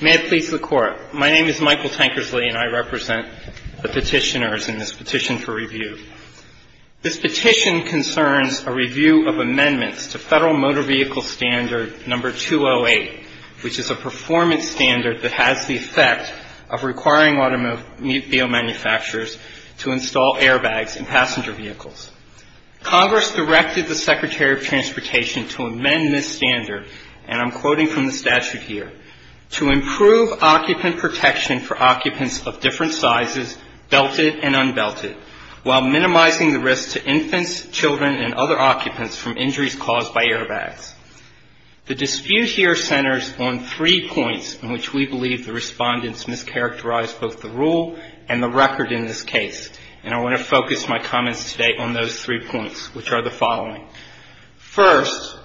May it please the Court. My name is Michael Tankersley and I represent the petitioners in this petition for review. This petition concerns a review of amendments to Federal Motor Vehicle Standard No. 208, which is a performance standard that has the effect of requiring automobile manufacturers to install airbags in passenger vehicles. Congress directed the Secretary of Transportation to amend this standard, and I'm quoting from the statute here, to improve occupant protection for occupants of different sizes, belted and unbelted, while minimizing the risk to infants, children, and other occupants from injuries caused by airbags. The dispute here centers on three points in which we believe the respondents mischaracterized both the rule and the record in this case, and I want to focus my comments today on those three points, which are the following. First,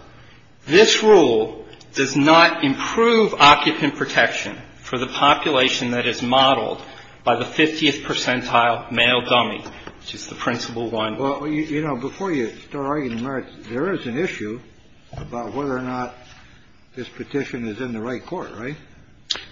this rule does not improve occupant protection for the population that is modeled by the 50th percentile male dummy, which is the principal one. Well, you know, before you start arguing the merits, there is an issue about whether or not this petition is in the right court, right?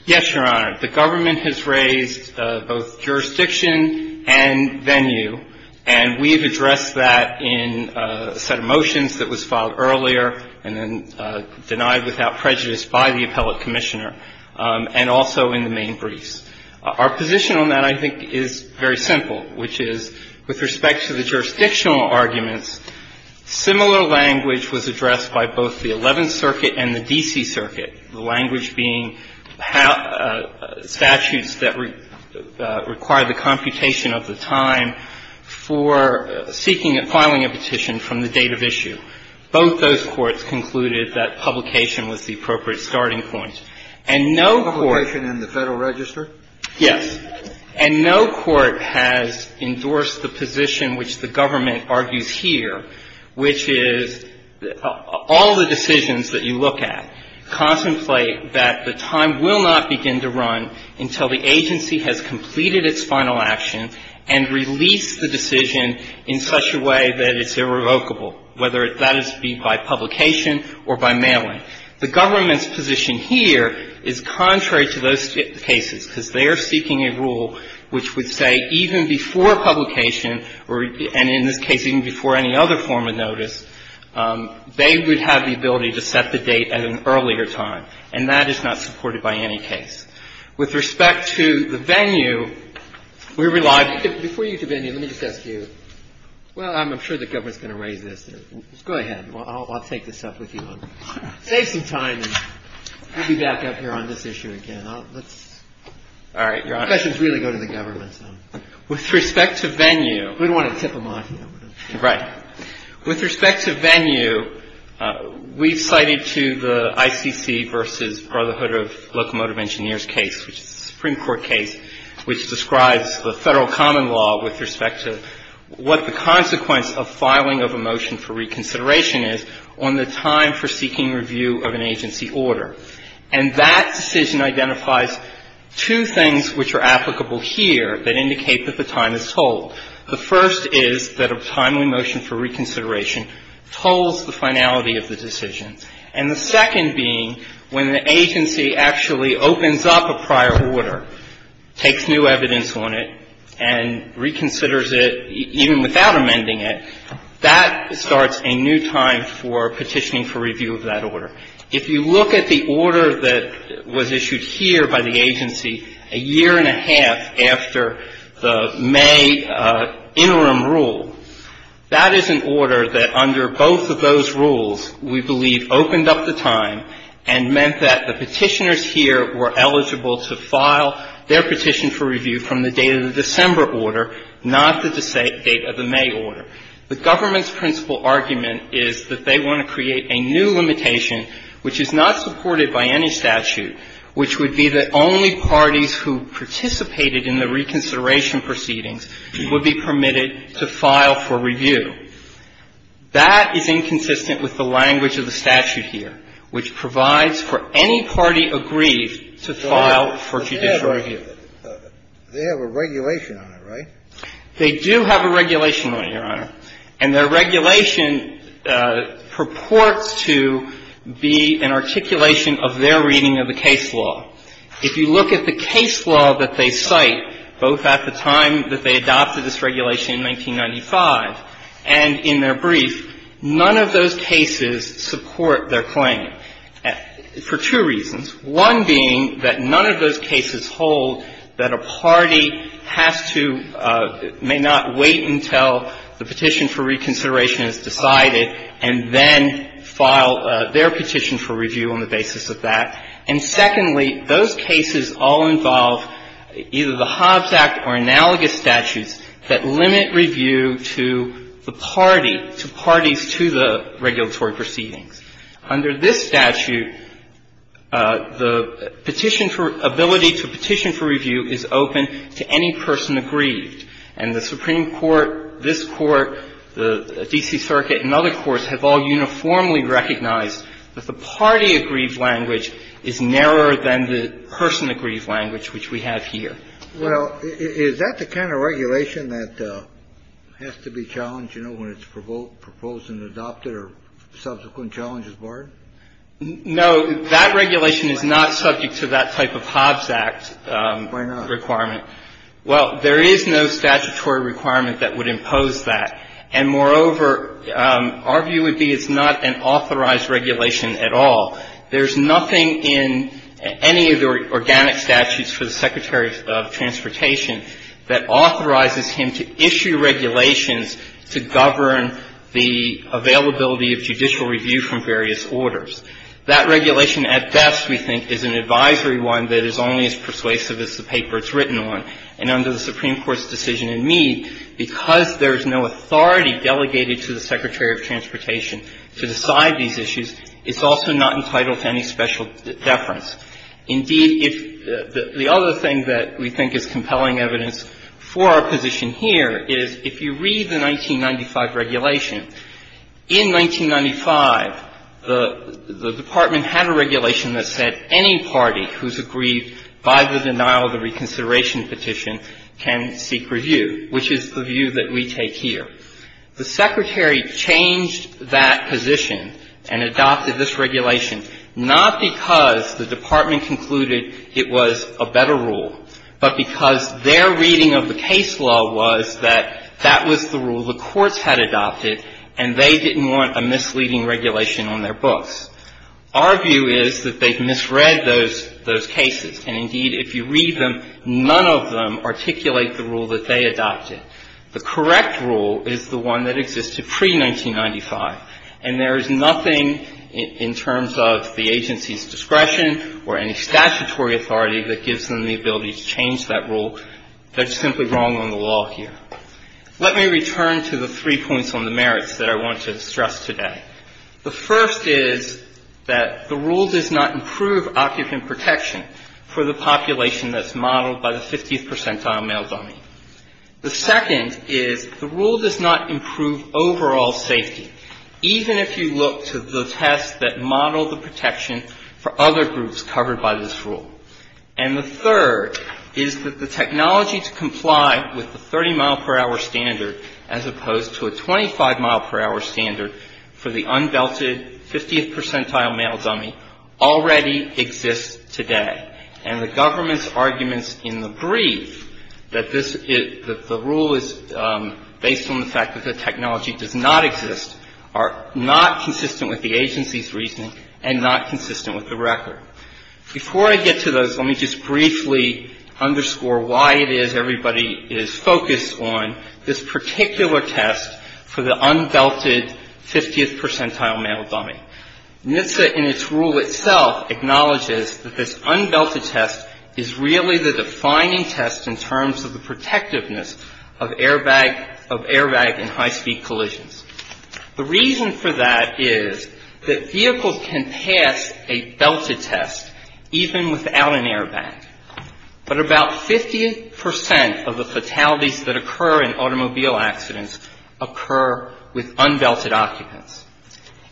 Yes, Your Honor. The government has raised both jurisdiction and venue, and we have addressed that in a set of motions that was filed earlier and then denied without prejudice by the appellate commissioner, and also in the main briefs. Our position on that, I think, is very simple, which is, with respect to the jurisdictional arguments, similar language was addressed by both the Eleventh Circuit and the D.C. Circuit, the language being statutes that require the computation of the time for seeking and filing a petition from the date of issue. Both those courts concluded that publication was the appropriate starting point. And no court ---- Publication in the Federal Register? Yes. And no court has endorsed the position which the government argues here, which is all the decisions that you look at contemplate that the time will not begin to run until the agency has completed its final action and released the decision in such a way that it's irrevocable, whether that is by publication or by mailing. The government's position here is contrary to those cases, because they are seeking a rule which would say even before publication or, and in this case, even before any other form of notice, they would have the ability to set the date at an earlier time, and that is not supported by any case. With respect to the venue, we rely ---- Before you get to venue, let me just ask you. Well, I'm sure the government is going to raise this. Go ahead. I'll take this up with you. Save some time, and we'll be back up here on this issue again. Let's ---- All right. Your Honor. The questions really go to the government. With respect to venue ---- We don't want to tip them off here. Right. With respect to venue, we've cited to the ICC v. Brotherhood of Locomotive Engineers case, which is a Supreme Court case which describes the Federal common law with respect to what the consequence of filing of a motion for reconsideration is on the time for seeking review of an agency order. And that decision identifies two things which are applicable here that indicate that the time is told. The first is that a timely motion for reconsideration tolls the finality of the decision. And the second being when the agency actually opens up a prior order, takes new evidence on it, and reconsiders it even without amending it, that starts a new time for petitioning for review of that order. If you look at the order that was issued here by the agency a year and a half after the May interim rule, that is an order that under both of those rules, we believe, opened up the time and meant that the petitioners here were eligible to file their petition for review from the date of the December order, not the date of the May order. The government's principal argument is that they want to create a new limitation which is not supported by any statute, which would be that only parties who participated in the reconsideration proceedings would be permitted to file for review. That is inconsistent with the language of the statute here, which provides for any party agreed to file for judicial review. They have a regulation on it, right? They do have a regulation on it, Your Honor. And their regulation purports to be an articulation of their reading of the case law. If you look at the case law that they cite, both at the time that they adopted this regulation in 1995 and in their brief, none of those cases support their claim for two reasons, one being that none of those cases hold that a party has to, may not wait until the petition for reconsideration is decided, and then file their petition for review on the basis of that. And secondly, those cases all involve either the Hobbs Act or analogous statutes that limit review to the party, to parties to the regulatory proceedings. Under this statute, the petition for ability to petition for review is open to any person aggrieved. And the Supreme Court, this Court, the D.C. Circuit and other courts have all uniformly recognized that the party aggrieved language is narrower than the person aggrieved language, which we have here. Well, is that the kind of regulation that has to be challenged, you know, when it's proposed and adopted or subsequent challenges barred? No. That regulation is not subject to that type of Hobbs Act requirement. Why not? Well, there is no statutory requirement that would impose that. And moreover, our view would be it's not an authorized regulation at all. There's nothing in any of the organic statutes for the Secretary of Transportation that authorizes him to issue regulations to govern the availability of judicial review from various orders. That regulation at best, we think, is an advisory one that is only as persuasive as the paper it's written on. And under the Supreme Court's decision in Mead, because there is no authority delegated to the Secretary of Transportation to decide these issues, it's also not entitled to any special deference. Indeed, if the other thing that we think is compelling evidence for our position here is if you read the 1995 regulation, in 1995, the Department had a regulation that said any party who is aggrieved by the denial of the reconsideration petition can seek review, which is the view that we take here. The Secretary changed that position and adopted this regulation not because the Department concluded it was a better rule, but because their reading of the case law was that that was the rule the courts had adopted and they didn't want a misleading regulation on their books. Our view is that they've misread those cases. And indeed, if you read them, none of them articulate the rule that they adopted. The correct rule is the one that existed pre-1995. And there is nothing in terms of the agency's discretion or any statutory authority that gives them the ability to change that rule that's simply wrong on the law here. Let me return to the three points on the merits that I want to stress today. The first is that the rule does not improve occupant protection for the population that's modeled by the 50th percentile male dummy. The second is the rule does not improve overall safety, even if you look to the tests that model the protection for other groups covered by this rule. And the third is that the technology to comply with the 30-mile-per-hour standard as opposed to a 25-mile-per-hour standard for the unbelted 50th percentile male dummy already exists today. And the government's arguments in the brief that this is the rule is based on the fact that the technology does not exist are not consistent with the agency's reasoning and not consistent with the record. Before I get to those, let me just briefly underscore why it is everybody is focused on this particular test for the unbelted 50th percentile male dummy. NHTSA in its rule itself acknowledges that this unbelted test is really the defining test in terms of the protectiveness of airbag and high-speed collisions. The reason for that is that vehicles can pass a belted test even without an airbag, but about 50 percent of the fatalities that occur in automobile accidents occur with unbelted occupants.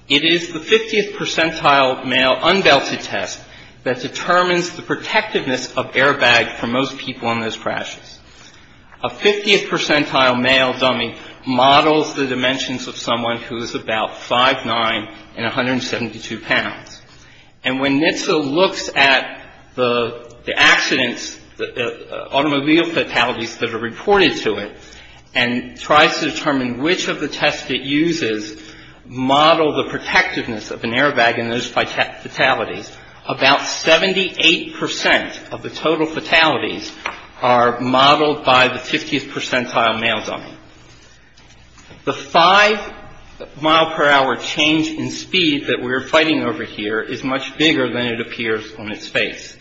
It is the 50th percentile male unbelted test that determines the protectiveness of airbag for most people in those crashes. A 50th percentile male dummy models the dimensions of someone who is about 5'9 and 172 pounds. And when NHTSA looks at the accidents, automobile fatalities that are reported to it and tries to determine which of the tests it uses model the protectiveness of an airbag in those fatalities, about 78 percent of the total fatalities are modeled by the 50th percentile male dummy. The 5 mile per hour change in speed that we're fighting over here is much bigger than it appears on its face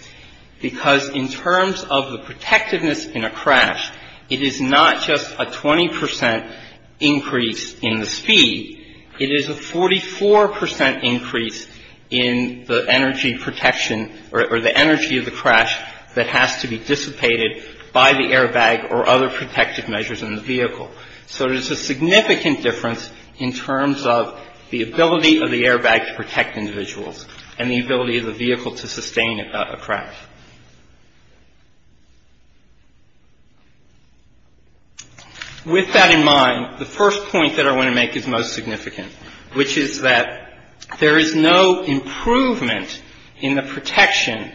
because in terms of the protectiveness in a crash, it is not just a 20 percent increase in the speed. It is a 44 percent increase in the energy protection or the energy of the crash that has to be dissipated by the airbag or other protective measures in the vehicle. So there's a significant difference in terms of the ability of the airbag to protect individuals and the ability of the vehicle to sustain a crash. With that in mind, the first point that I want to make is most significant, which is that there is no improvement in the protection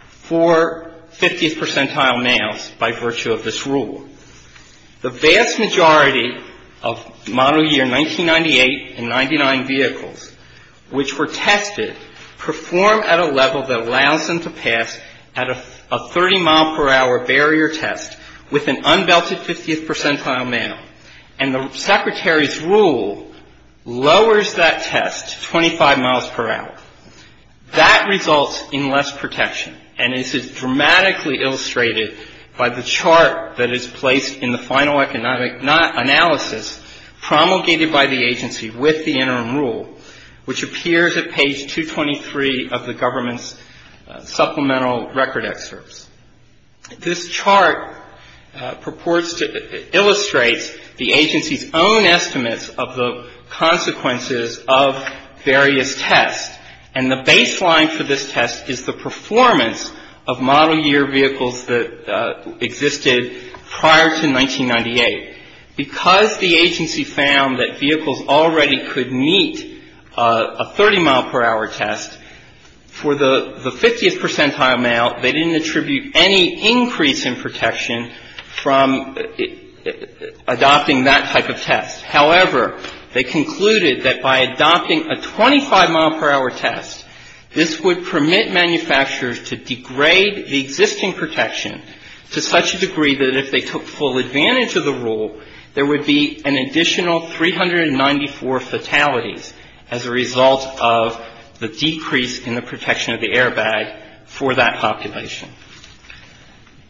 for 50th percentile males by virtue of this rule. The vast majority of model year 1998 and 99 vehicles, which were tested, perform at a level that allows them to pass at a 30 mile per hour barrier test with an unbelted 50th percentile male. And the Secretary's rule lowers that test to 25 miles per hour. That results in less protection, and this is dramatically illustrated by the chart that is placed in the final economic analysis promulgated by the agency with the interim rule, which appears at page 223 of the government's supplemental record excerpts. This chart illustrates the agency's own estimates of the consequences of various tests, and the baseline for this test is the performance of model year vehicles that existed prior to 1998. Because the agency found that vehicles already could meet a 30 mile per hour test, for the 50th percentile male, they didn't attribute any increase in protection from adopting that type of test. However, they concluded that by adopting a 25 mile per hour test, this would permit manufacturers to degrade the existing protection to such a degree that if they took full advantage of the rule, there would be an additional 394 fatalities as a result of the decrease in the protection of the airbag for that population.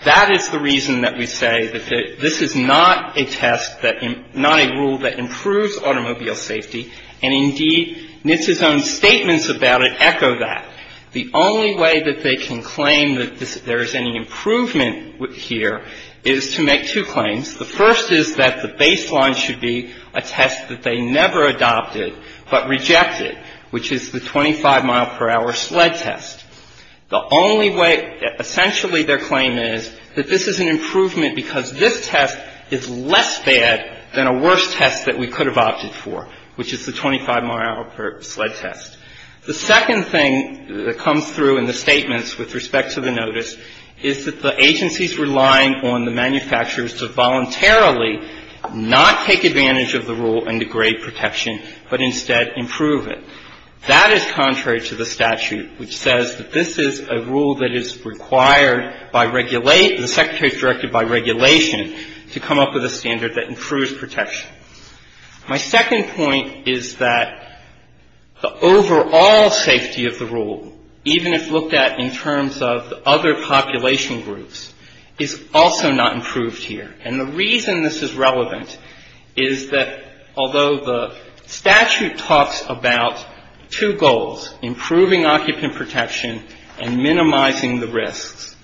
That is the reason that we say that this is not a test that — not a rule that improves automobile safety, and indeed, NHTSA's own statements about it echo that. The only way that they can claim that there is any improvement here is to make two claims. The first is that the baseline should be a test that they never adopted but rejected, which is the 25 mile per hour sled test. The only way — essentially their claim is that this is an improvement because this test is less bad than a worse test that we could have opted for, which is the 25 mile per hour sled test. The second thing that comes through in the statements with respect to the notice is that the agency is relying on the manufacturers to voluntarily not take advantage of the rule and degrade protection, but instead improve it. That is contrary to the statute, which says that this is a rule that is required by — the Secretary is directed by regulation to come up with a standard that improves protection. My second point is that the overall safety of the rule, even if looked at in terms of the other population groups, is also not improved here. And the reason this is relevant is that although the statute talks about two goals, improving occupant protection and minimizing the risks,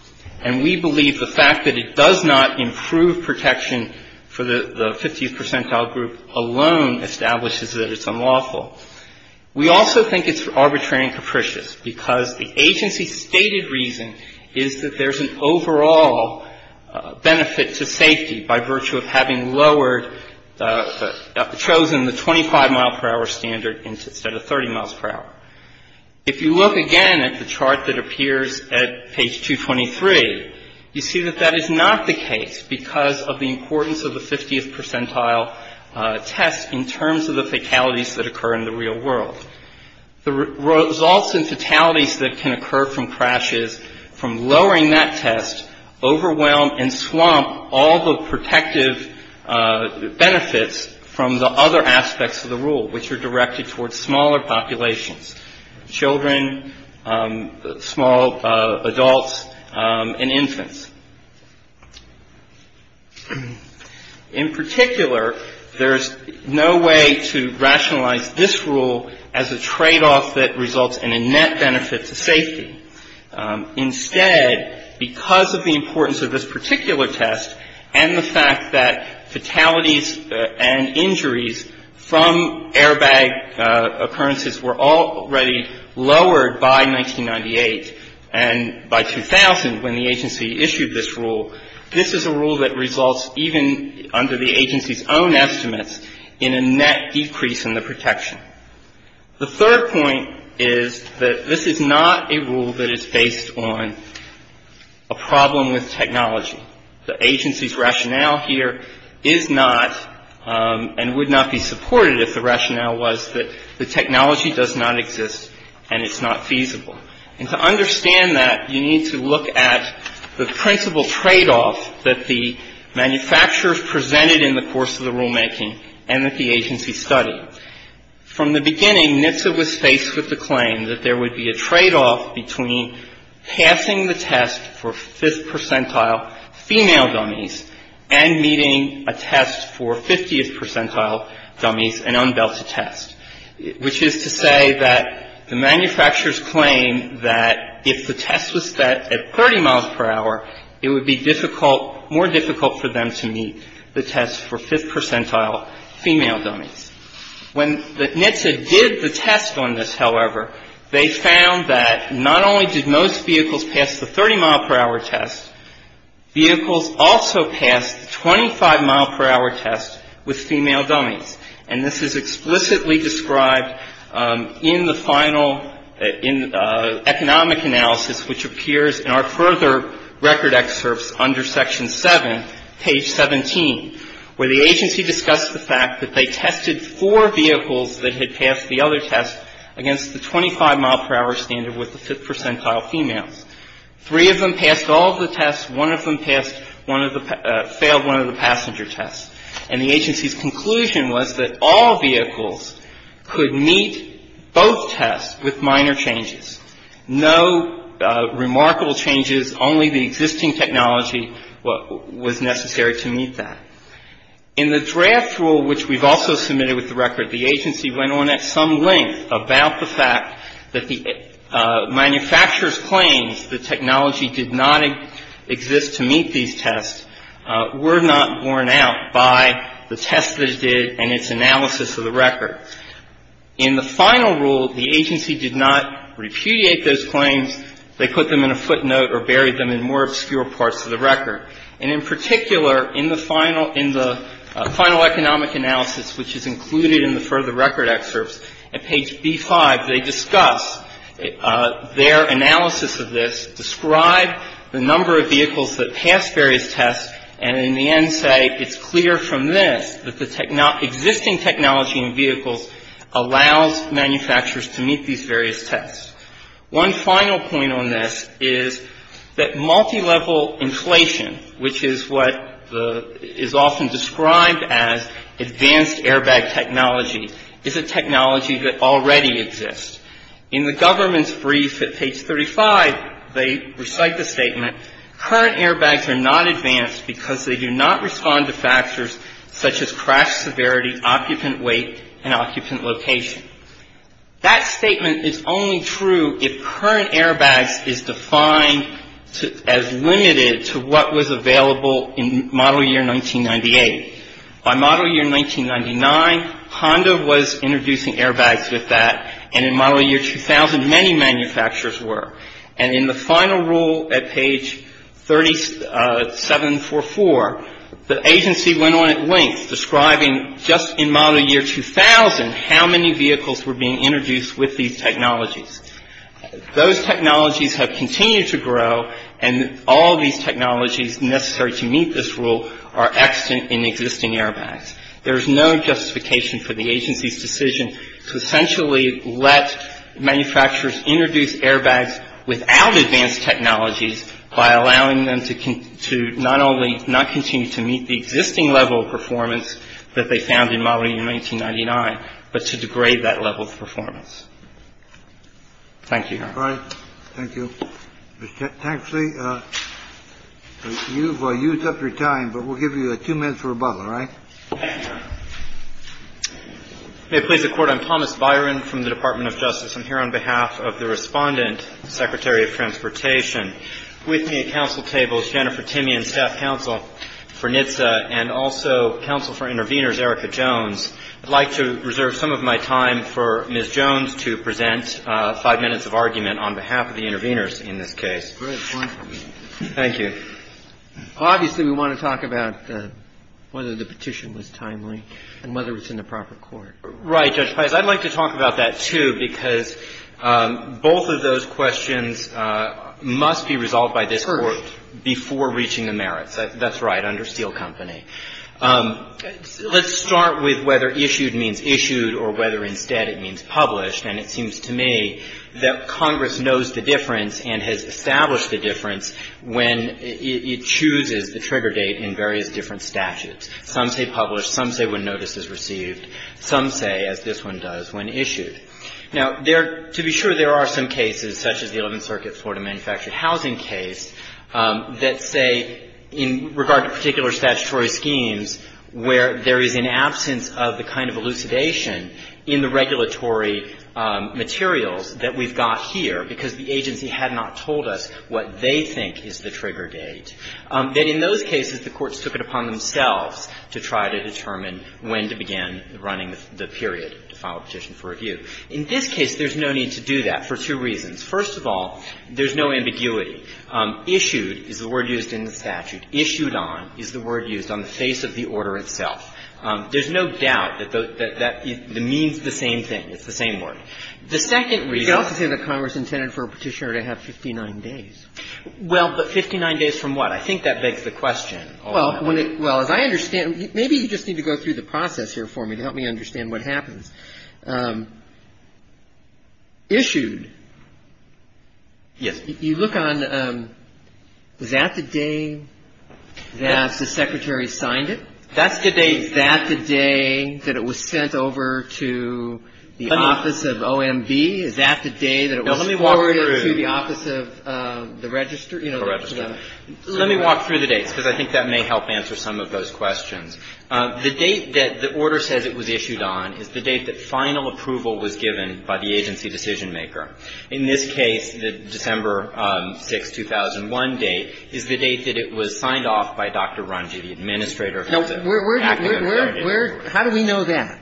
and we believe the fact that it does not improve protection for the 50th percentile group alone establishes that it's unlawful, we also think it's arbitrary and capricious because the agency's stated reason is that there's an overall benefit to safety by virtue of having lowered — chosen the 25 mile per hour standard instead of 30 miles per hour. If you look again at the chart that appears at page 223, you see that that is not the case because of the importance of the 50th percentile test in terms of the fatalities that occur in the real world. The results in fatalities that can occur from crashes from lowering that test overwhelm and swamp all the protective benefits from the other aspects of the rule, which are directed towards smaller populations, children, small adults, and infants. In particular, there's no way to rationalize this rule as a tradeoff that results in a net benefit to safety. Instead, because of the importance of this particular test and the fact that fatalities and injuries from airbag occurrences were already lowered by 1998 and by 2000 when the agency issued this rule, this is a rule that results even under the agency's own estimates in a net decrease in the protection. The third point is that this is not a rule that is based on a problem with technology. The agency's rationale here is not and would not be supported if the rationale was that the technology does not exist and it's not feasible. And to understand that, you need to look at the principal tradeoff that the manufacturers presented in the course of the rulemaking and that the agency studied. From the beginning, NHTSA was faced with the claim that there would be a tradeoff between passing the test for fifth percentile female dummies and meeting a test for 50th percentile dummies, an unbelted test, which is to say that the manufacturers claim that if the test was set at 30 miles per hour, it would be difficult, more difficult for them to meet the test for fifth percentile female dummies. When NHTSA did the test on this, however, they found that not only did most vehicles pass the 30-mile-per-hour test, vehicles also passed the 25-mile-per-hour test with female dummies. And this is explicitly described in the final economic analysis, which appears in our further record excerpts under Section 7, page 17, where the agency discussed the fact that they tested four vehicles that had passed the other test against the 25-mile-per-hour standard with the fifth percentile females. Three of them passed all of the tests. One of them passed one of the — failed one of the passenger tests. And the agency's conclusion was that all vehicles could meet both tests with minor changes. No remarkable changes, only the existing technology was necessary to meet that. In the draft rule, which we've also submitted with the record, the agency went on at some length about the fact that the manufacturers' claims that technology did not exist to meet these tests were not borne out by the test that it did and its analysis of the record. In the final rule, the agency did not repudiate those claims. They put them in a footnote or buried them in more obscure parts of the record. And in particular, in the final — in the final economic analysis, which is included in the further record excerpts at page B-5, they discuss their analysis of this, describe the number of vehicles that passed various tests, and in the end say it's clear from this that the existing technology in vehicles allows manufacturers to meet these various tests. One final point on this is that multilevel inflation, which is what is often described as advanced airbag technology, is a technology that already exists. In the government's brief at page 35, they recite the statement, current airbags are not advanced because they do not respond to factors such as crash severity, occupant weight, and occupant location. That statement is only true if current airbags is defined as limited to what was available in model year 1998. By model year 1999, Honda was introducing airbags with that, and in model year 2000, many manufacturers were. And in the final rule at page 3744, the agency went on at length describing just in model year 2000 how many vehicles were being introduced with these technologies. Those technologies have continued to grow, and all of these technologies necessary to meet this rule are extant in existing airbags. There is no justification for the agency's decision to essentially let manufacturers introduce airbags without advanced technologies by allowing them to not only not continue to meet the existing level of performance that they found in model year 1999, but to degrade that level of performance. Thank you. Thank you. Actually, you've used up your time, but we'll give you two minutes for rebuttal. All right. Thank you. May it please the Court, I'm Thomas Byron from the Department of Justice. I'm here on behalf of the Respondent, Secretary of Transportation. With me at Council tables, Jennifer Timian, Staff Counsel for NHTSA, and also Counsel for Interveners, Erica Jones. I'd like to reserve some of my time for Ms. Jones to present five minutes of argument on behalf of the interveners in this case. Great. Wonderful. Thank you. Obviously, we want to talk about whether the petition was timely and whether it's in the proper court. Right, Judge Pius. I'd like to talk about that, too, because both of those questions must be resolved by this Court before reaching the merits. That's right, under Steele Company. Let's start with whether issued means issued or whether instead it means published. And it seems to me that Congress knows the difference and has established the difference when it chooses the trigger date in various different statutes. Some say published. Some say when notice is received. Some say, as this one does, when issued. Now, to be sure, there are some cases, such as the Eleventh Circuit Florida manufactured housing case, that say in regard to particular statutory schemes where there is an absence of the kind of elucidation in the regulatory materials that we've got here because the agency had not told us what they think is the trigger date, that in those cases the courts took it upon themselves to try to determine when to begin running the period to file a petition for review. In this case, there's no need to do that for two reasons. First of all, there's no ambiguity. Issued is the word used in the statute. Issued on is the word used on the face of the order itself. There's no doubt that that means the same thing. It's the same word. The second reason you have to say that Congress intended for a petitioner to have 59 days. Well, but 59 days from what? I think that begs the question. Well, as I understand, maybe you just need to go through the process here for me to help me understand what happens. Issued. Yes. You look on, is that the day that the Secretary signed it? That's the date. Is that the day that it was sent over to the office of OMB? Is that the day that it was forwarded to the office of the register? Let me walk through the dates because I think that may help answer some of those questions. The date that the order says it was issued on is the date that final approval was given by the agency decision-maker. In this case, the December 6, 2001 date is the date that it was signed off by Dr. Rungi, the administrator. How do we know that?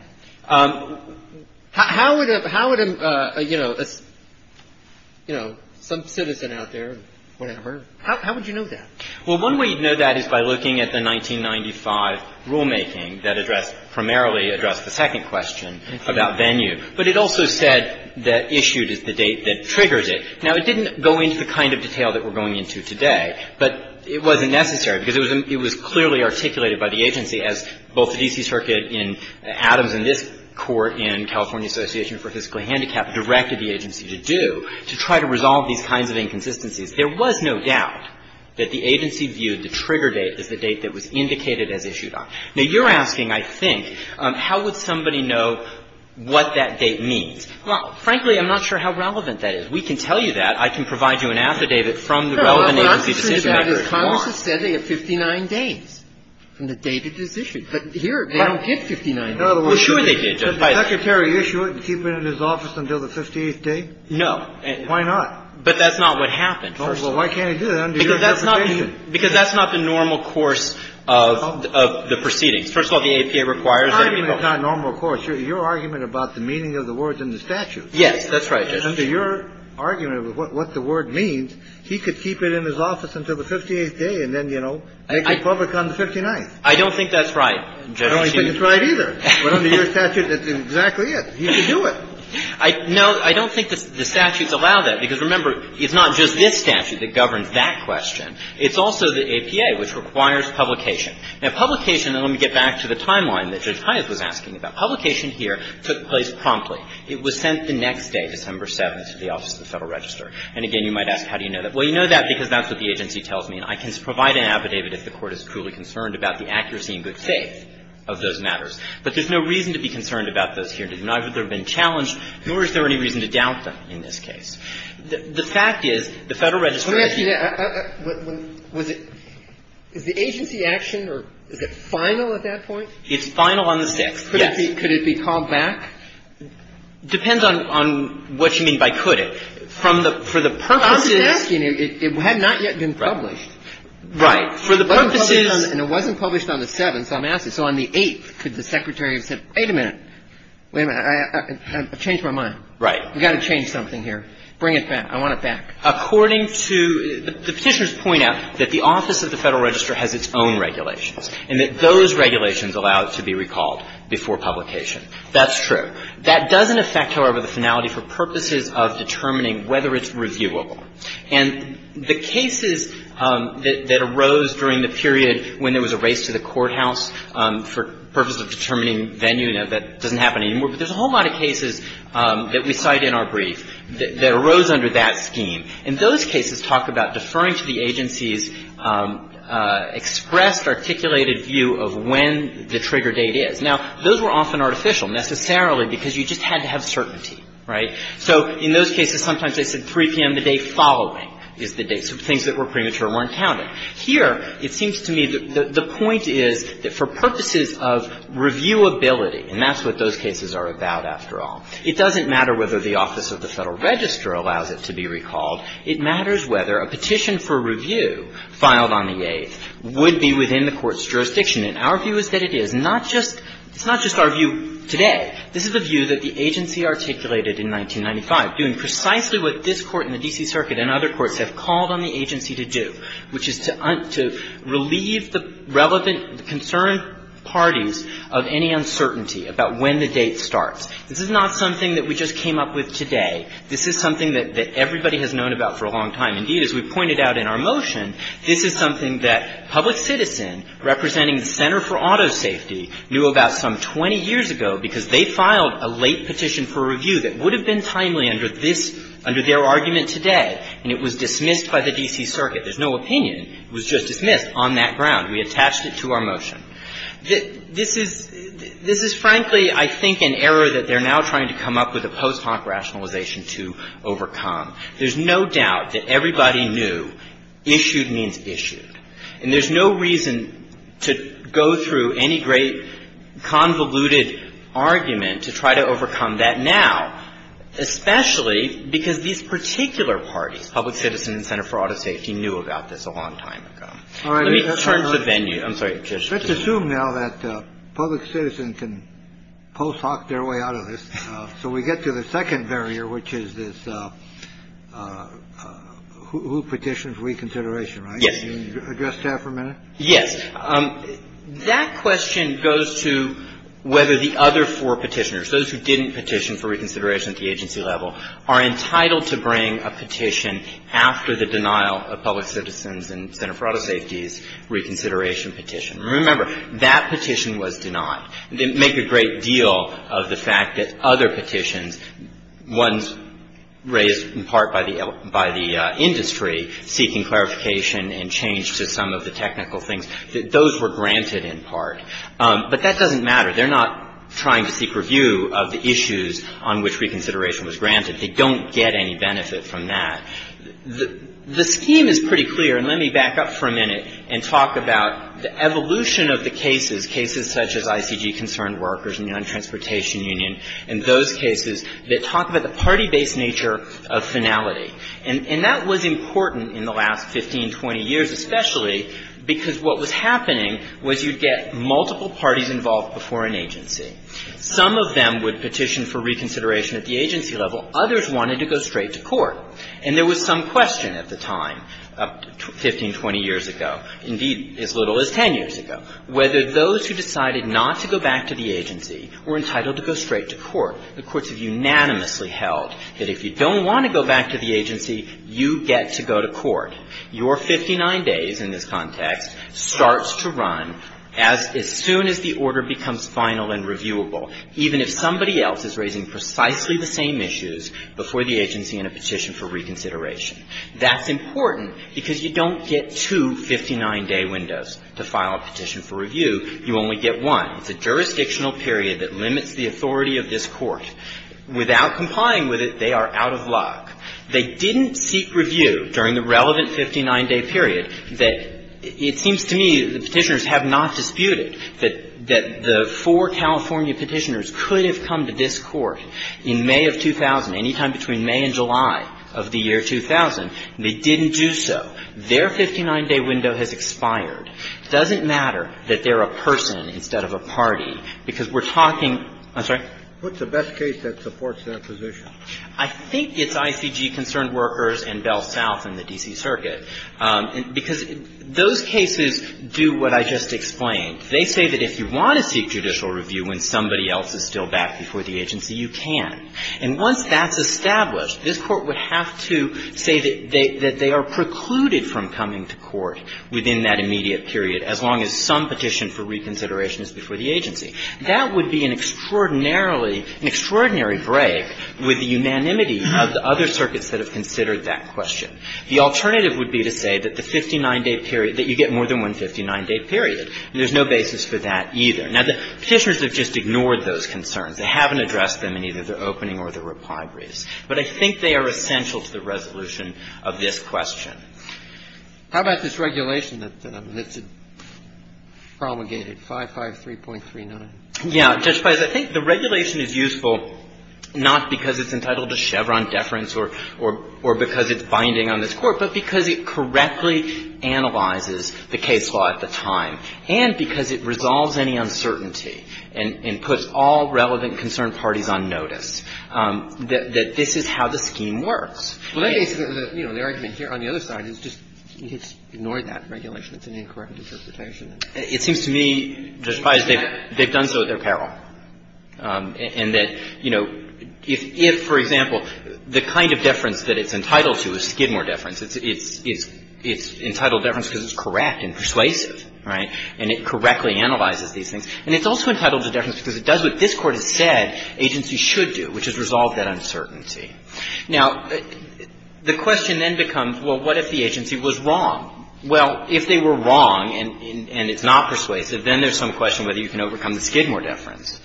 How would a, you know, some citizen out there, whatever, how would you know that? Well, one way you'd know that is by looking at the 1995 rulemaking that addressed, primarily addressed the second question about venue. But it also said that issued is the date that triggers it. Now, it didn't go into the kind of detail that we're going into today, but it wasn't necessary because it was clearly articulated by the agency as both the D.C. Circuit in Adams and this Court in California Association for Physical Handicap directed the agency to do to try to resolve these kinds of inconsistencies. There was no doubt that the agency viewed the trigger date as the date that was indicated as issued on. Now, you're asking, I think, how would somebody know what that date means? Well, frankly, I'm not sure how relevant that is. We can tell you that. I can provide you an after-date from the relevant agency decision-maker. Go on. Congress has said they have 59 days from the date it is issued. But here, they don't give 59 days. Well, sure they did. Did the Secretary issue it and keep it in his office until the 58th day? No. Why not? But that's not what happened. Well, why can't he do that under your jurisdiction? Because that's not the normal course of the proceedings. First of all, the APA requires that people go. It's not normal course. Your argument about the meaning of the words in the statute. Yes, that's right, Justice. Under your argument of what the word means, he could keep it in his office until the 58th day and then, you know, make it public on the 59th. I don't think that's right, Justice Kennedy. I don't think it's right either. But under your statute, that's exactly it. He could do it. No, I don't think the statutes allow that. Because remember, it's not just this statute that governs that question. It's also the APA, which requires publication. Now, publication, and let me get back to the timeline that Judge Hyatt was asking about. Publication here took place promptly. It was sent the next day, December 7th, to the Office of the Federal Register. And again, you might ask, how do you know that? Well, you know that because that's what the agency tells me. And I can provide an affidavit if the Court is truly concerned about the accuracy and good faith of those matters. But there's no reason to be concerned about those here. Neither have they been challenged, nor is there any reason to doubt them in this case. The fact is, the Federal Register is here. Let me ask you that. Was it the agency action, or is it final at that point? It's final on the 6th, yes. Could it be called back? Depends on what you mean by could it. For the purposes of asking, it had not yet been published. Right. And it wasn't published on the 7th, so I'm asking. So on the 8th, could the Secretary have said, wait a minute. Wait a minute. I've changed my mind. Right. We've got to change something here. Bring it back. I want it back. According to the Petitioners' point out that the office of the Federal Register has its own regulations, and that those regulations allow it to be recalled before publication. That's true. That doesn't affect, however, the finality for purposes of determining whether it's reviewable. And the cases that arose during the period when there was a race to the courthouse for purposes of determining venue, now, that doesn't happen anymore. But there's a whole lot of cases that we cite in our brief that arose under that scheme. And those cases talk about deferring to the agency's expressed articulated view of when the trigger date is. Now, those were often artificial, necessarily because you just had to have certainty. Right. So in those cases, sometimes they said 3 p.m. the day following is the date. So things that were premature weren't counted. Here, it seems to me that the point is that for purposes of reviewability And that's what those cases are about, after all. It doesn't matter whether the office of the Federal Register allows it to be recalled. It matters whether a petition for review filed on the 8th would be within the Court's jurisdiction. And our view is that it is. Not just – it's not just our view today. This is a view that the agency articulated in 1995, doing precisely what this Court and the D.C. Circuit and other courts have called on the agency to do, which is to relieve the relevant concerned parties of any uncertainty about when the date starts. This is not something that we just came up with today. This is something that everybody has known about for a long time. Indeed, as we pointed out in our motion, this is something that public citizen representing the Center for Auto Safety knew about some 20 years ago, because they filed a late petition for review that would have been timely under this – under their argument today. And it was dismissed by the D.C. Circuit. There's no opinion. It was just dismissed on that ground. We attached it to our motion. This is – this is, frankly, I think, an error that they're now trying to come up with a post-honk rationalization to overcome. There's no doubt that everybody knew issued means issued. And there's no reason to go through any great convoluted argument to try to overcome that now, especially because these particular parties, Public Citizen and Center for Auto Safety, knew about this a long time ago. Let me turn to venue. I'm sorry, Judge. Let's assume now that Public Citizen can post-honk their way out of this. So we get to the second barrier, which is this who petitions reconsideration, right? Yes. Can you address that for a minute? Yes. That question goes to whether the other four Petitioners, those who didn't petition for reconsideration at the agency level, are entitled to bring a petition after the denial of Public Citizen's and Center for Auto Safety's reconsideration petition. Remember, that petition was denied. They make a great deal of the fact that other petitions, ones raised in part by the industry seeking clarification and change to some of the technical things, those were granted in part. But that doesn't matter. They're not trying to seek review of the issues on which reconsideration was granted. They don't get any benefit from that. The scheme is pretty clear. And let me back up for a minute and talk about the evolution of the cases, cases such as ICG Concerned Workers and the Untransportation Union and those cases that talk about the party-based nature of finality. And that was important in the last 15, 20 years, especially because what was happening was you'd get multiple parties involved before an agency. Some of them would petition for reconsideration at the agency level. Others wanted to go straight to court. And there was some question at the time, 15, 20 years ago, indeed, as little as 10 years ago, whether those who decided not to go back to the agency were entitled to go straight to court. The courts have unanimously held that if you don't want to go back to the agency, you get to go to court. Your 59 days in this context starts to run as soon as the order becomes final and reviewable, even if somebody else is raising precisely the same issues before the agency in a petition for reconsideration. That's important because you don't get two 59-day windows to file a petition for review. You only get one. It's a jurisdictional period that limits the authority of this court. Without complying with it, they are out of luck. They didn't seek review during the relevant 59-day period that it seems to me the Petitioners have not disputed, that the four California Petitioners could have come to this Court in May of 2000, any time between May and July of the year 2000. They didn't do so. Their 59-day window has expired. It doesn't matter that they're a person instead of a party, because we're talking – I'm sorry? What's the best case that supports that position? I think it's ICG Concerned Workers and Bell South and the D.C. Circuit, because those cases do what I just explained. They say that if you want to seek judicial review when somebody else is still back before the agency, you can. And once that's established, this Court would have to say that they are precluded from coming to court within that immediate period, as long as some petition for reconsideration is before the agency. That would be an extraordinarily – an extraordinary break with the unanimity of the other circuits that have considered that question. The alternative would be to say that the 59-day period – that you get more than one 59-day period, and there's no basis for that either. Now, the Petitioners have just ignored those concerns. They haven't addressed them in either their opening or their reply briefs. But I think they are essential to the resolution of this question. How about this regulation that's promulgated, 553.39? Yeah. Judge Feist, I think the regulation is useful not because it's entitled to Chevron deference or because it's binding on this Court, but because it correctly analyzes the case law at the time, and because it resolves any uncertainty and puts all relevant concerned parties on notice, that this is how the scheme works. The argument here on the other side is just ignore that regulation. It's an incorrect interpretation. It seems to me, Judge Feist, they've done so at their peril, and that, you know, if, for example, the kind of deference that it's entitled to is Skidmore deference. It's entitled deference because it's correct and persuasive, right, and it correctly analyzes these things. And it's also entitled to deference because it does what this Court has said agencies should do, which is resolve that uncertainty. Now, the question then becomes, well, what if the agency was wrong? Well, if they were wrong and it's not persuasive, then there's some question whether you can overcome the Skidmore deference.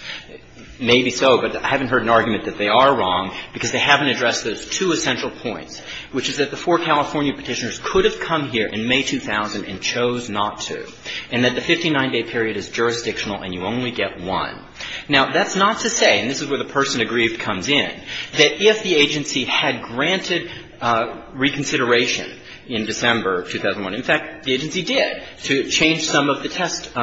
Maybe so, but I haven't heard an argument that they are wrong because they haven't addressed those two essential points, which is that the four California Petitioners could have come here in May 2000 and chose not to, and that the 59-day period is jurisdictional and you only get one. Now, that's not to say, and this is where the person aggrieved comes in, that if the agency had granted reconsideration in December of 2001, in fact, the agency did, to change some of the test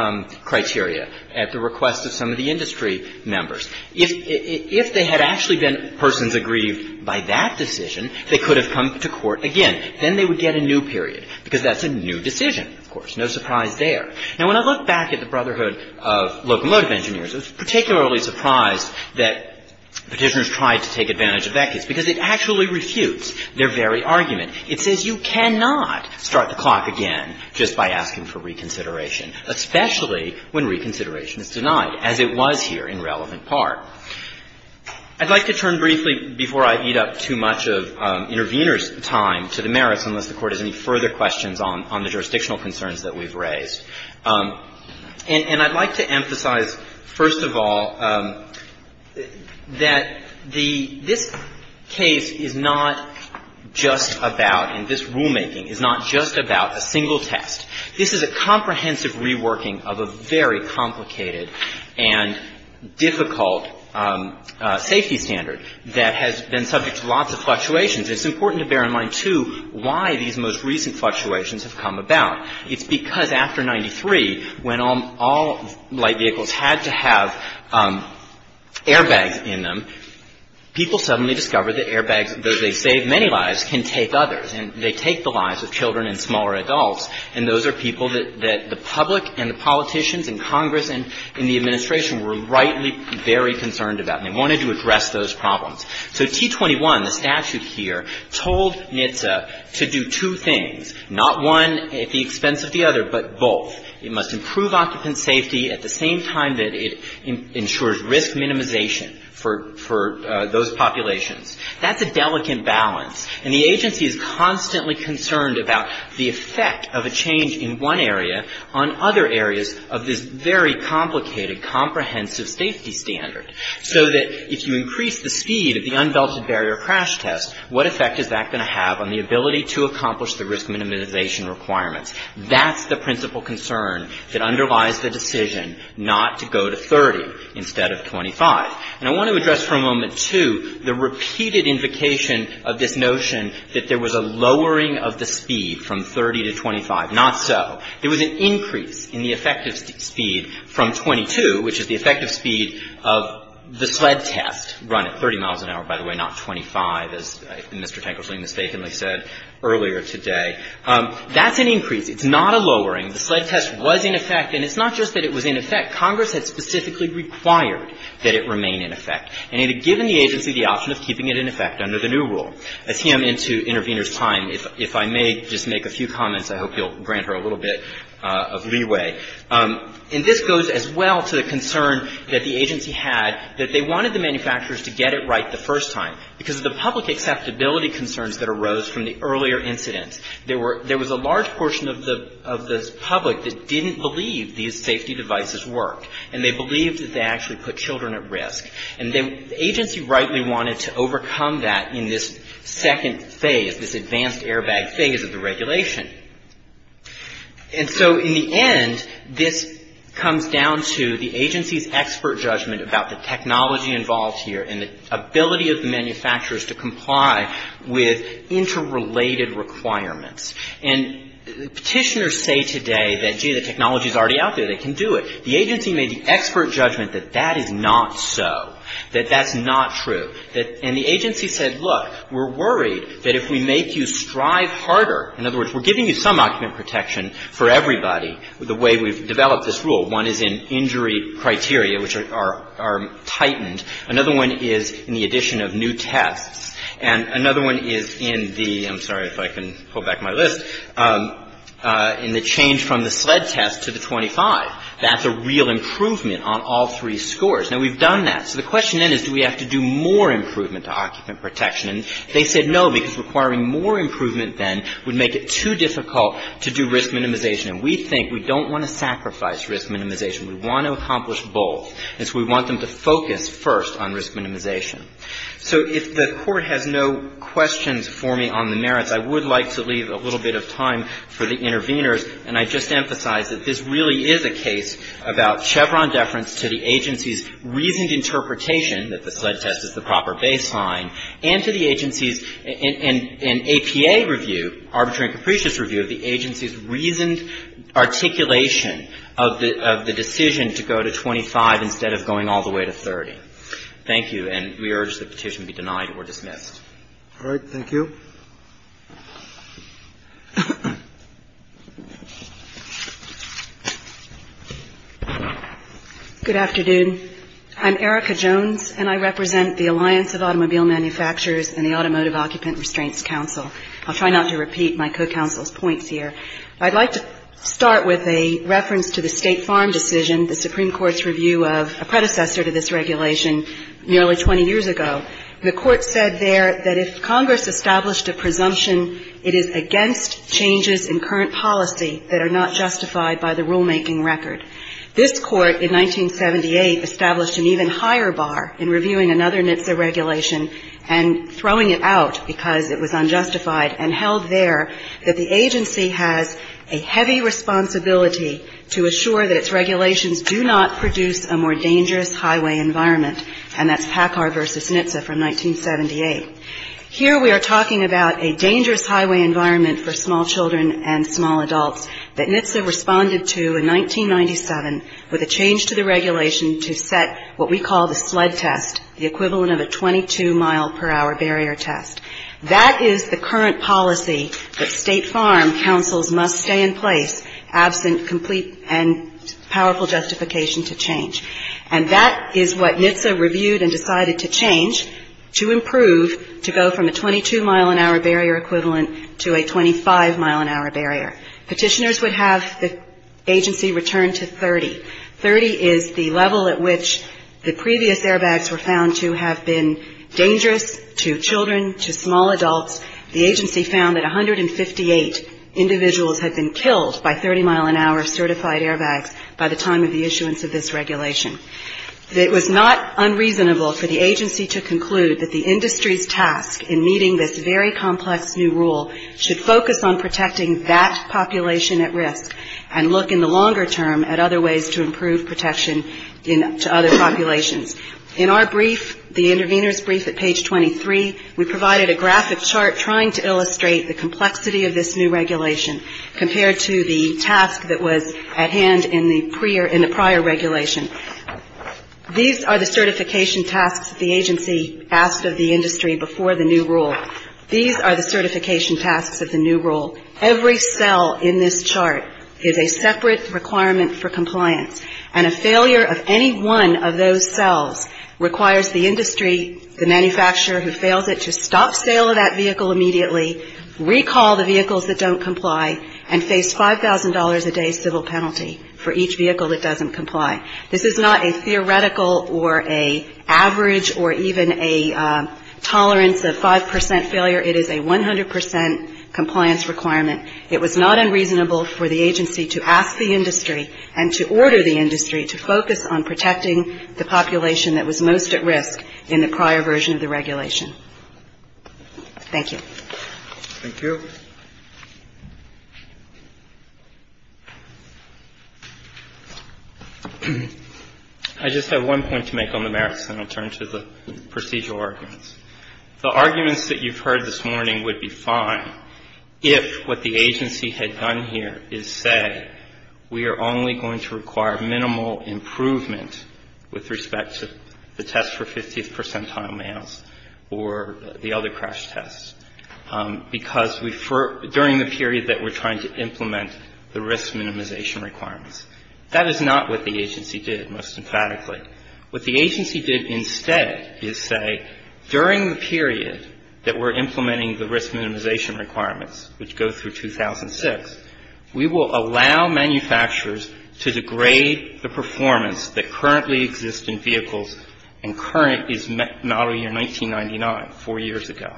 criteria at the request of some of the industry members. If they had actually been persons aggrieved by that decision, they could have come to court again. Then they would get a new period, because that's a new decision, of course. No surprise there. Now, when I look back at the Brotherhood of Locomotive Engineers, I was particularly surprised that Petitioners tried to take advantage of that case, because it actually refutes their very argument. It says you cannot start the clock again just by asking for reconsideration, especially when reconsideration is denied, as it was here in relevant part. I'd like to turn briefly, before I eat up too much of intervener's time to the merits, unless the Court has any further questions on the jurisdictional concerns that we've raised. And I'd like to emphasize, first of all, that the — this case is not just about — and this rulemaking is not just about a single test. This is a comprehensive reworking of a very complicated and difficult safety standard that has been subject to lots of fluctuations. It's important to bear in mind, too, why these most recent fluctuations have come about. It's because after 93, when all light vehicles had to have airbags in them, people suddenly discovered that airbags, though they saved many lives, can take others, and they take the lives of children and smaller adults, and those are people that the public and the politicians and Congress and the Administration were rightly very concerned about, and they wanted to address those problems. So T21, the statute here, told NHTSA to do two things, not one at the expense of the other, but both. It must improve occupant safety at the same time that it ensures risk minimization for those populations. That's a delicate balance, and the agency is constantly concerned about the effect of a change in one area on other areas of this very complicated, comprehensive safety standard, so that if you increase the speed of the unbelted barrier crash test, what effect is that going to have on the ability to accomplish the risk minimization requirements? That's the principal concern that underlies the decision not to go to 30 instead of 25. And I want to address for a moment, too, the repeated invocation of this notion that there was a lowering of the speed from 30 to 25. Not so. There was an increase in the effective speed from 22, which is the effective speed of the sled test run at 30 miles an hour, by the way, not 25, as Mr. Tanklesley mistakenly said earlier today. That's an increase. It's not a lowering. The sled test was in effect. And it's not just that it was in effect. Congress had specifically required that it remain in effect. And it had given the agency the option of keeping it in effect under the new rule. I see I'm into intervener's time. If I may just make a few comments, I hope you'll grant her a little bit of leeway. And this goes as well to the concern that the agency had that they wanted the manufacturers to get it right the first time because of the public acceptability concerns that arose from the earlier incident. There were — there was a large portion of the public that didn't believe these safety devices worked, and they believed that they actually put children at risk. And the agency rightly wanted to overcome that in this second phase, this advanced airbag thing, as of the regulation. And so in the end, this comes down to the agency's expert judgment about the technology involved here and the ability of the manufacturers to comply with interrelated requirements. And Petitioners say today that, gee, the technology's already out there. They can do it. The agency made the expert judgment that that is not so, that that's not true. And the agency said, look, we're worried that if we make you strive harder, in other words, we're giving you some occupant protection for everybody, the way we've developed this rule. One is in injury criteria, which are tightened. Another one is in the addition of new tests. And another one is in the — I'm sorry if I can pull back my list — in the change from the SLED test to the 25. That's a real improvement on all three scores. Now, we've done that. So the question then is, do we have to do more improvement to occupant protection? And they said no, because requiring more improvement then would make it too difficult to do risk minimization. And we think we don't want to sacrifice risk minimization. We want to accomplish both. And so we want them to focus first on risk minimization. So if the Court has no questions for me on the merits, I would like to leave a little bit of time for the interveners. And I just emphasize that this really is a case about Chevron deference to the agency's reasoned interpretation that the SLED test is the proper baseline and to the agency's — and APA review, arbitrary and capricious review of the agency's reasoned articulation of the decision to go to 25 instead of going all the way to 30. Thank you. And we urge the petition be denied or dismissed. All right. Thank you. Good afternoon. I'm Erica Jones, and I represent the Alliance of Automobile Manufacturers and the Automotive Occupant Restraints Council. I'll try not to repeat my co-counsel's points here. I'd like to start with a reference to the State Farm decision, the Supreme Court's review of a predecessor to this regulation nearly 20 years ago. The Court said there that if Congress established a presumption, it is against changes in current policy that are not justified by the rulemaking record. This Court in 1978 established an even higher bar in reviewing another NHTSA regulation and throwing it out because it was unjustified and held there that the agency has a heavy responsibility to assure that its regulations do not produce a more dangerous highway environment, and that's Packard v. NHTSA from 1978. Here we are talking about a dangerous highway environment for small children and small adults that NHTSA responded to in 1997 with a change to the regulation to set what we call the sled test, the equivalent of a 22-mile-per-hour barrier test. That is the current policy that State Farm councils must stay in place absent complete and powerful justification to change. And that is what NHTSA reviewed and decided to change to improve to go from a 22-mile-an-hour barrier equivalent to a 25-mile-an-hour barrier. Petitioners would have the agency return to 30. Thirty is the level at which the previous airbags were found to have been dangerous to children, to small adults. The agency found that 158 individuals had been killed by 30-mile-an-hour certified airbags by the time of the issuance of this regulation. It was not unreasonable for the agency to conclude that the industry's task in meeting this very complex new rule should focus on protecting that population at risk and look in the longer term at other ways to improve protection to other populations. In our brief, the intervener's brief at page 23, we provided a graphic chart trying to illustrate the complexity of this new regulation compared to the task that was at hand in the prior regulation. These are the certification tasks that the agency asked of the industry before the new rule. These are the certification tasks of the new rule. Every cell in this chart is a separate requirement for compliance. And a failure of any one of those cells requires the industry, the manufacturer who fails it, to stop sale of that vehicle immediately, recall the vehicles that don't comply, and face $5,000 a day civil penalty for each vehicle that doesn't comply. This is not a theoretical or an average or even a tolerance of 5% failure. It is a 100% compliance requirement. It was not unreasonable for the agency to ask the industry and to order the industry to focus on protecting the population that was most at risk in the prior version of the regulation. Thank you. Thank you. I just have one point to make on the merits, and I'll turn to the procedural arguments. The arguments that you've heard this morning would be fine if what the agency had done here is say, we are only going to require minimal improvement with respect to the test for 50th percentile males or the other crash tests, because during the period that we're trying to implement the risk minimization requirements. That is not what the agency did, most emphatically. What the agency did instead is say, during the period that we're implementing the risk minimization requirements, which go through 2006, we will allow manufacturers to degrade the performance that currently exists in vehicles and current is model year 1999, four years ago.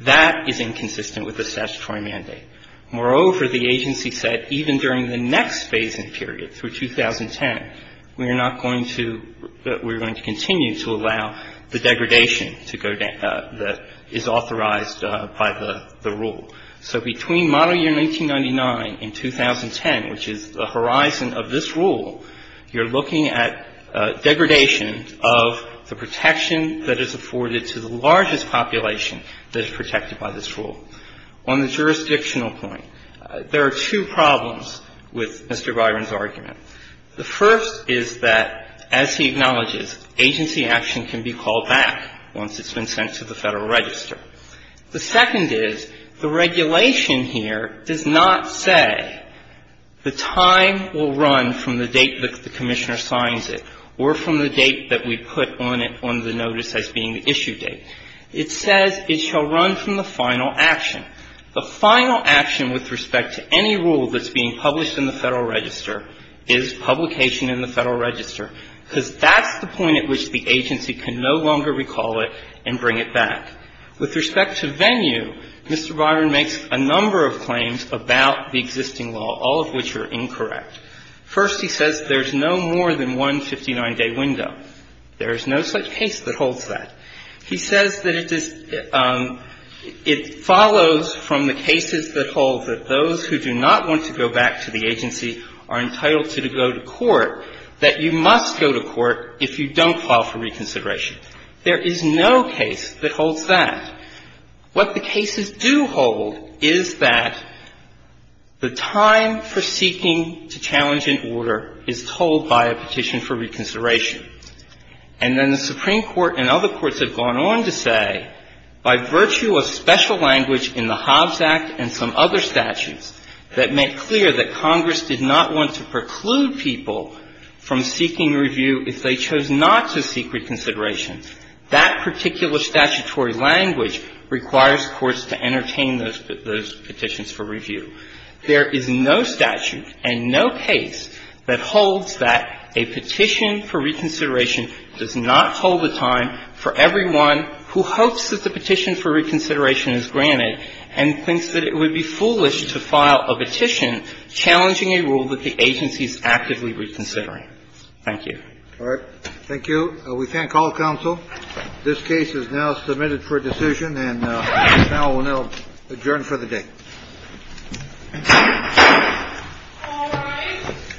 That is inconsistent with the statutory mandate. Moreover, the agency said even during the next phasing period, through 2010, we are not going to we're going to continue to allow the degradation to go down that is authorized by the rule. So between model year 1999 and 2010, which is the horizon of this rule, you're looking at degradation of the protection that is afforded to the largest population that is protected by this rule. On the jurisdictional point, there are two problems with Mr. Byron's argument. The first is that, as he acknowledges, agency action can be called back once it's been sent to the Federal Register. The second is the regulation here does not say the time will run from the date that the Commissioner signs it or from the date that we put on it on the notice as being the issue date. It says it shall run from the final action. The final action with respect to any rule that's being published in the Federal Register is publication in the Federal Register because that's the point at which the agency can no longer recall it and bring it back. With respect to venue, Mr. Byron makes a number of claims about the existing law, all of which are incorrect. First, he says there's no more than one 59-day window. There is no such case that holds that. He says that it is – it follows from the cases that hold that those who do not want to go back to the agency are entitled to go to court, that you must go to court if you don't file for reconsideration. There is no case that holds that. What the cases do hold is that the time for seeking to challenge an order is told by a petition for reconsideration. And then the Supreme Court and other courts have gone on to say, by virtue of special language in the Hobbs Act and some other statutes that make clear that Congress did not want to preclude people from seeking review if they chose not to seek reconsideration. That particular statutory language requires courts to entertain those petitions for review. There is no statute and no case that holds that a petition for reconsideration does not hold the time for everyone who hopes that the petition for reconsideration is granted and thinks that it would be foolish to file a petition challenging a rule that the agency is actively reconsidering. Thank you. All right. Thank you. We thank all counsel. This case is now submitted for decision. And the panel will now adjourn for the day. All right.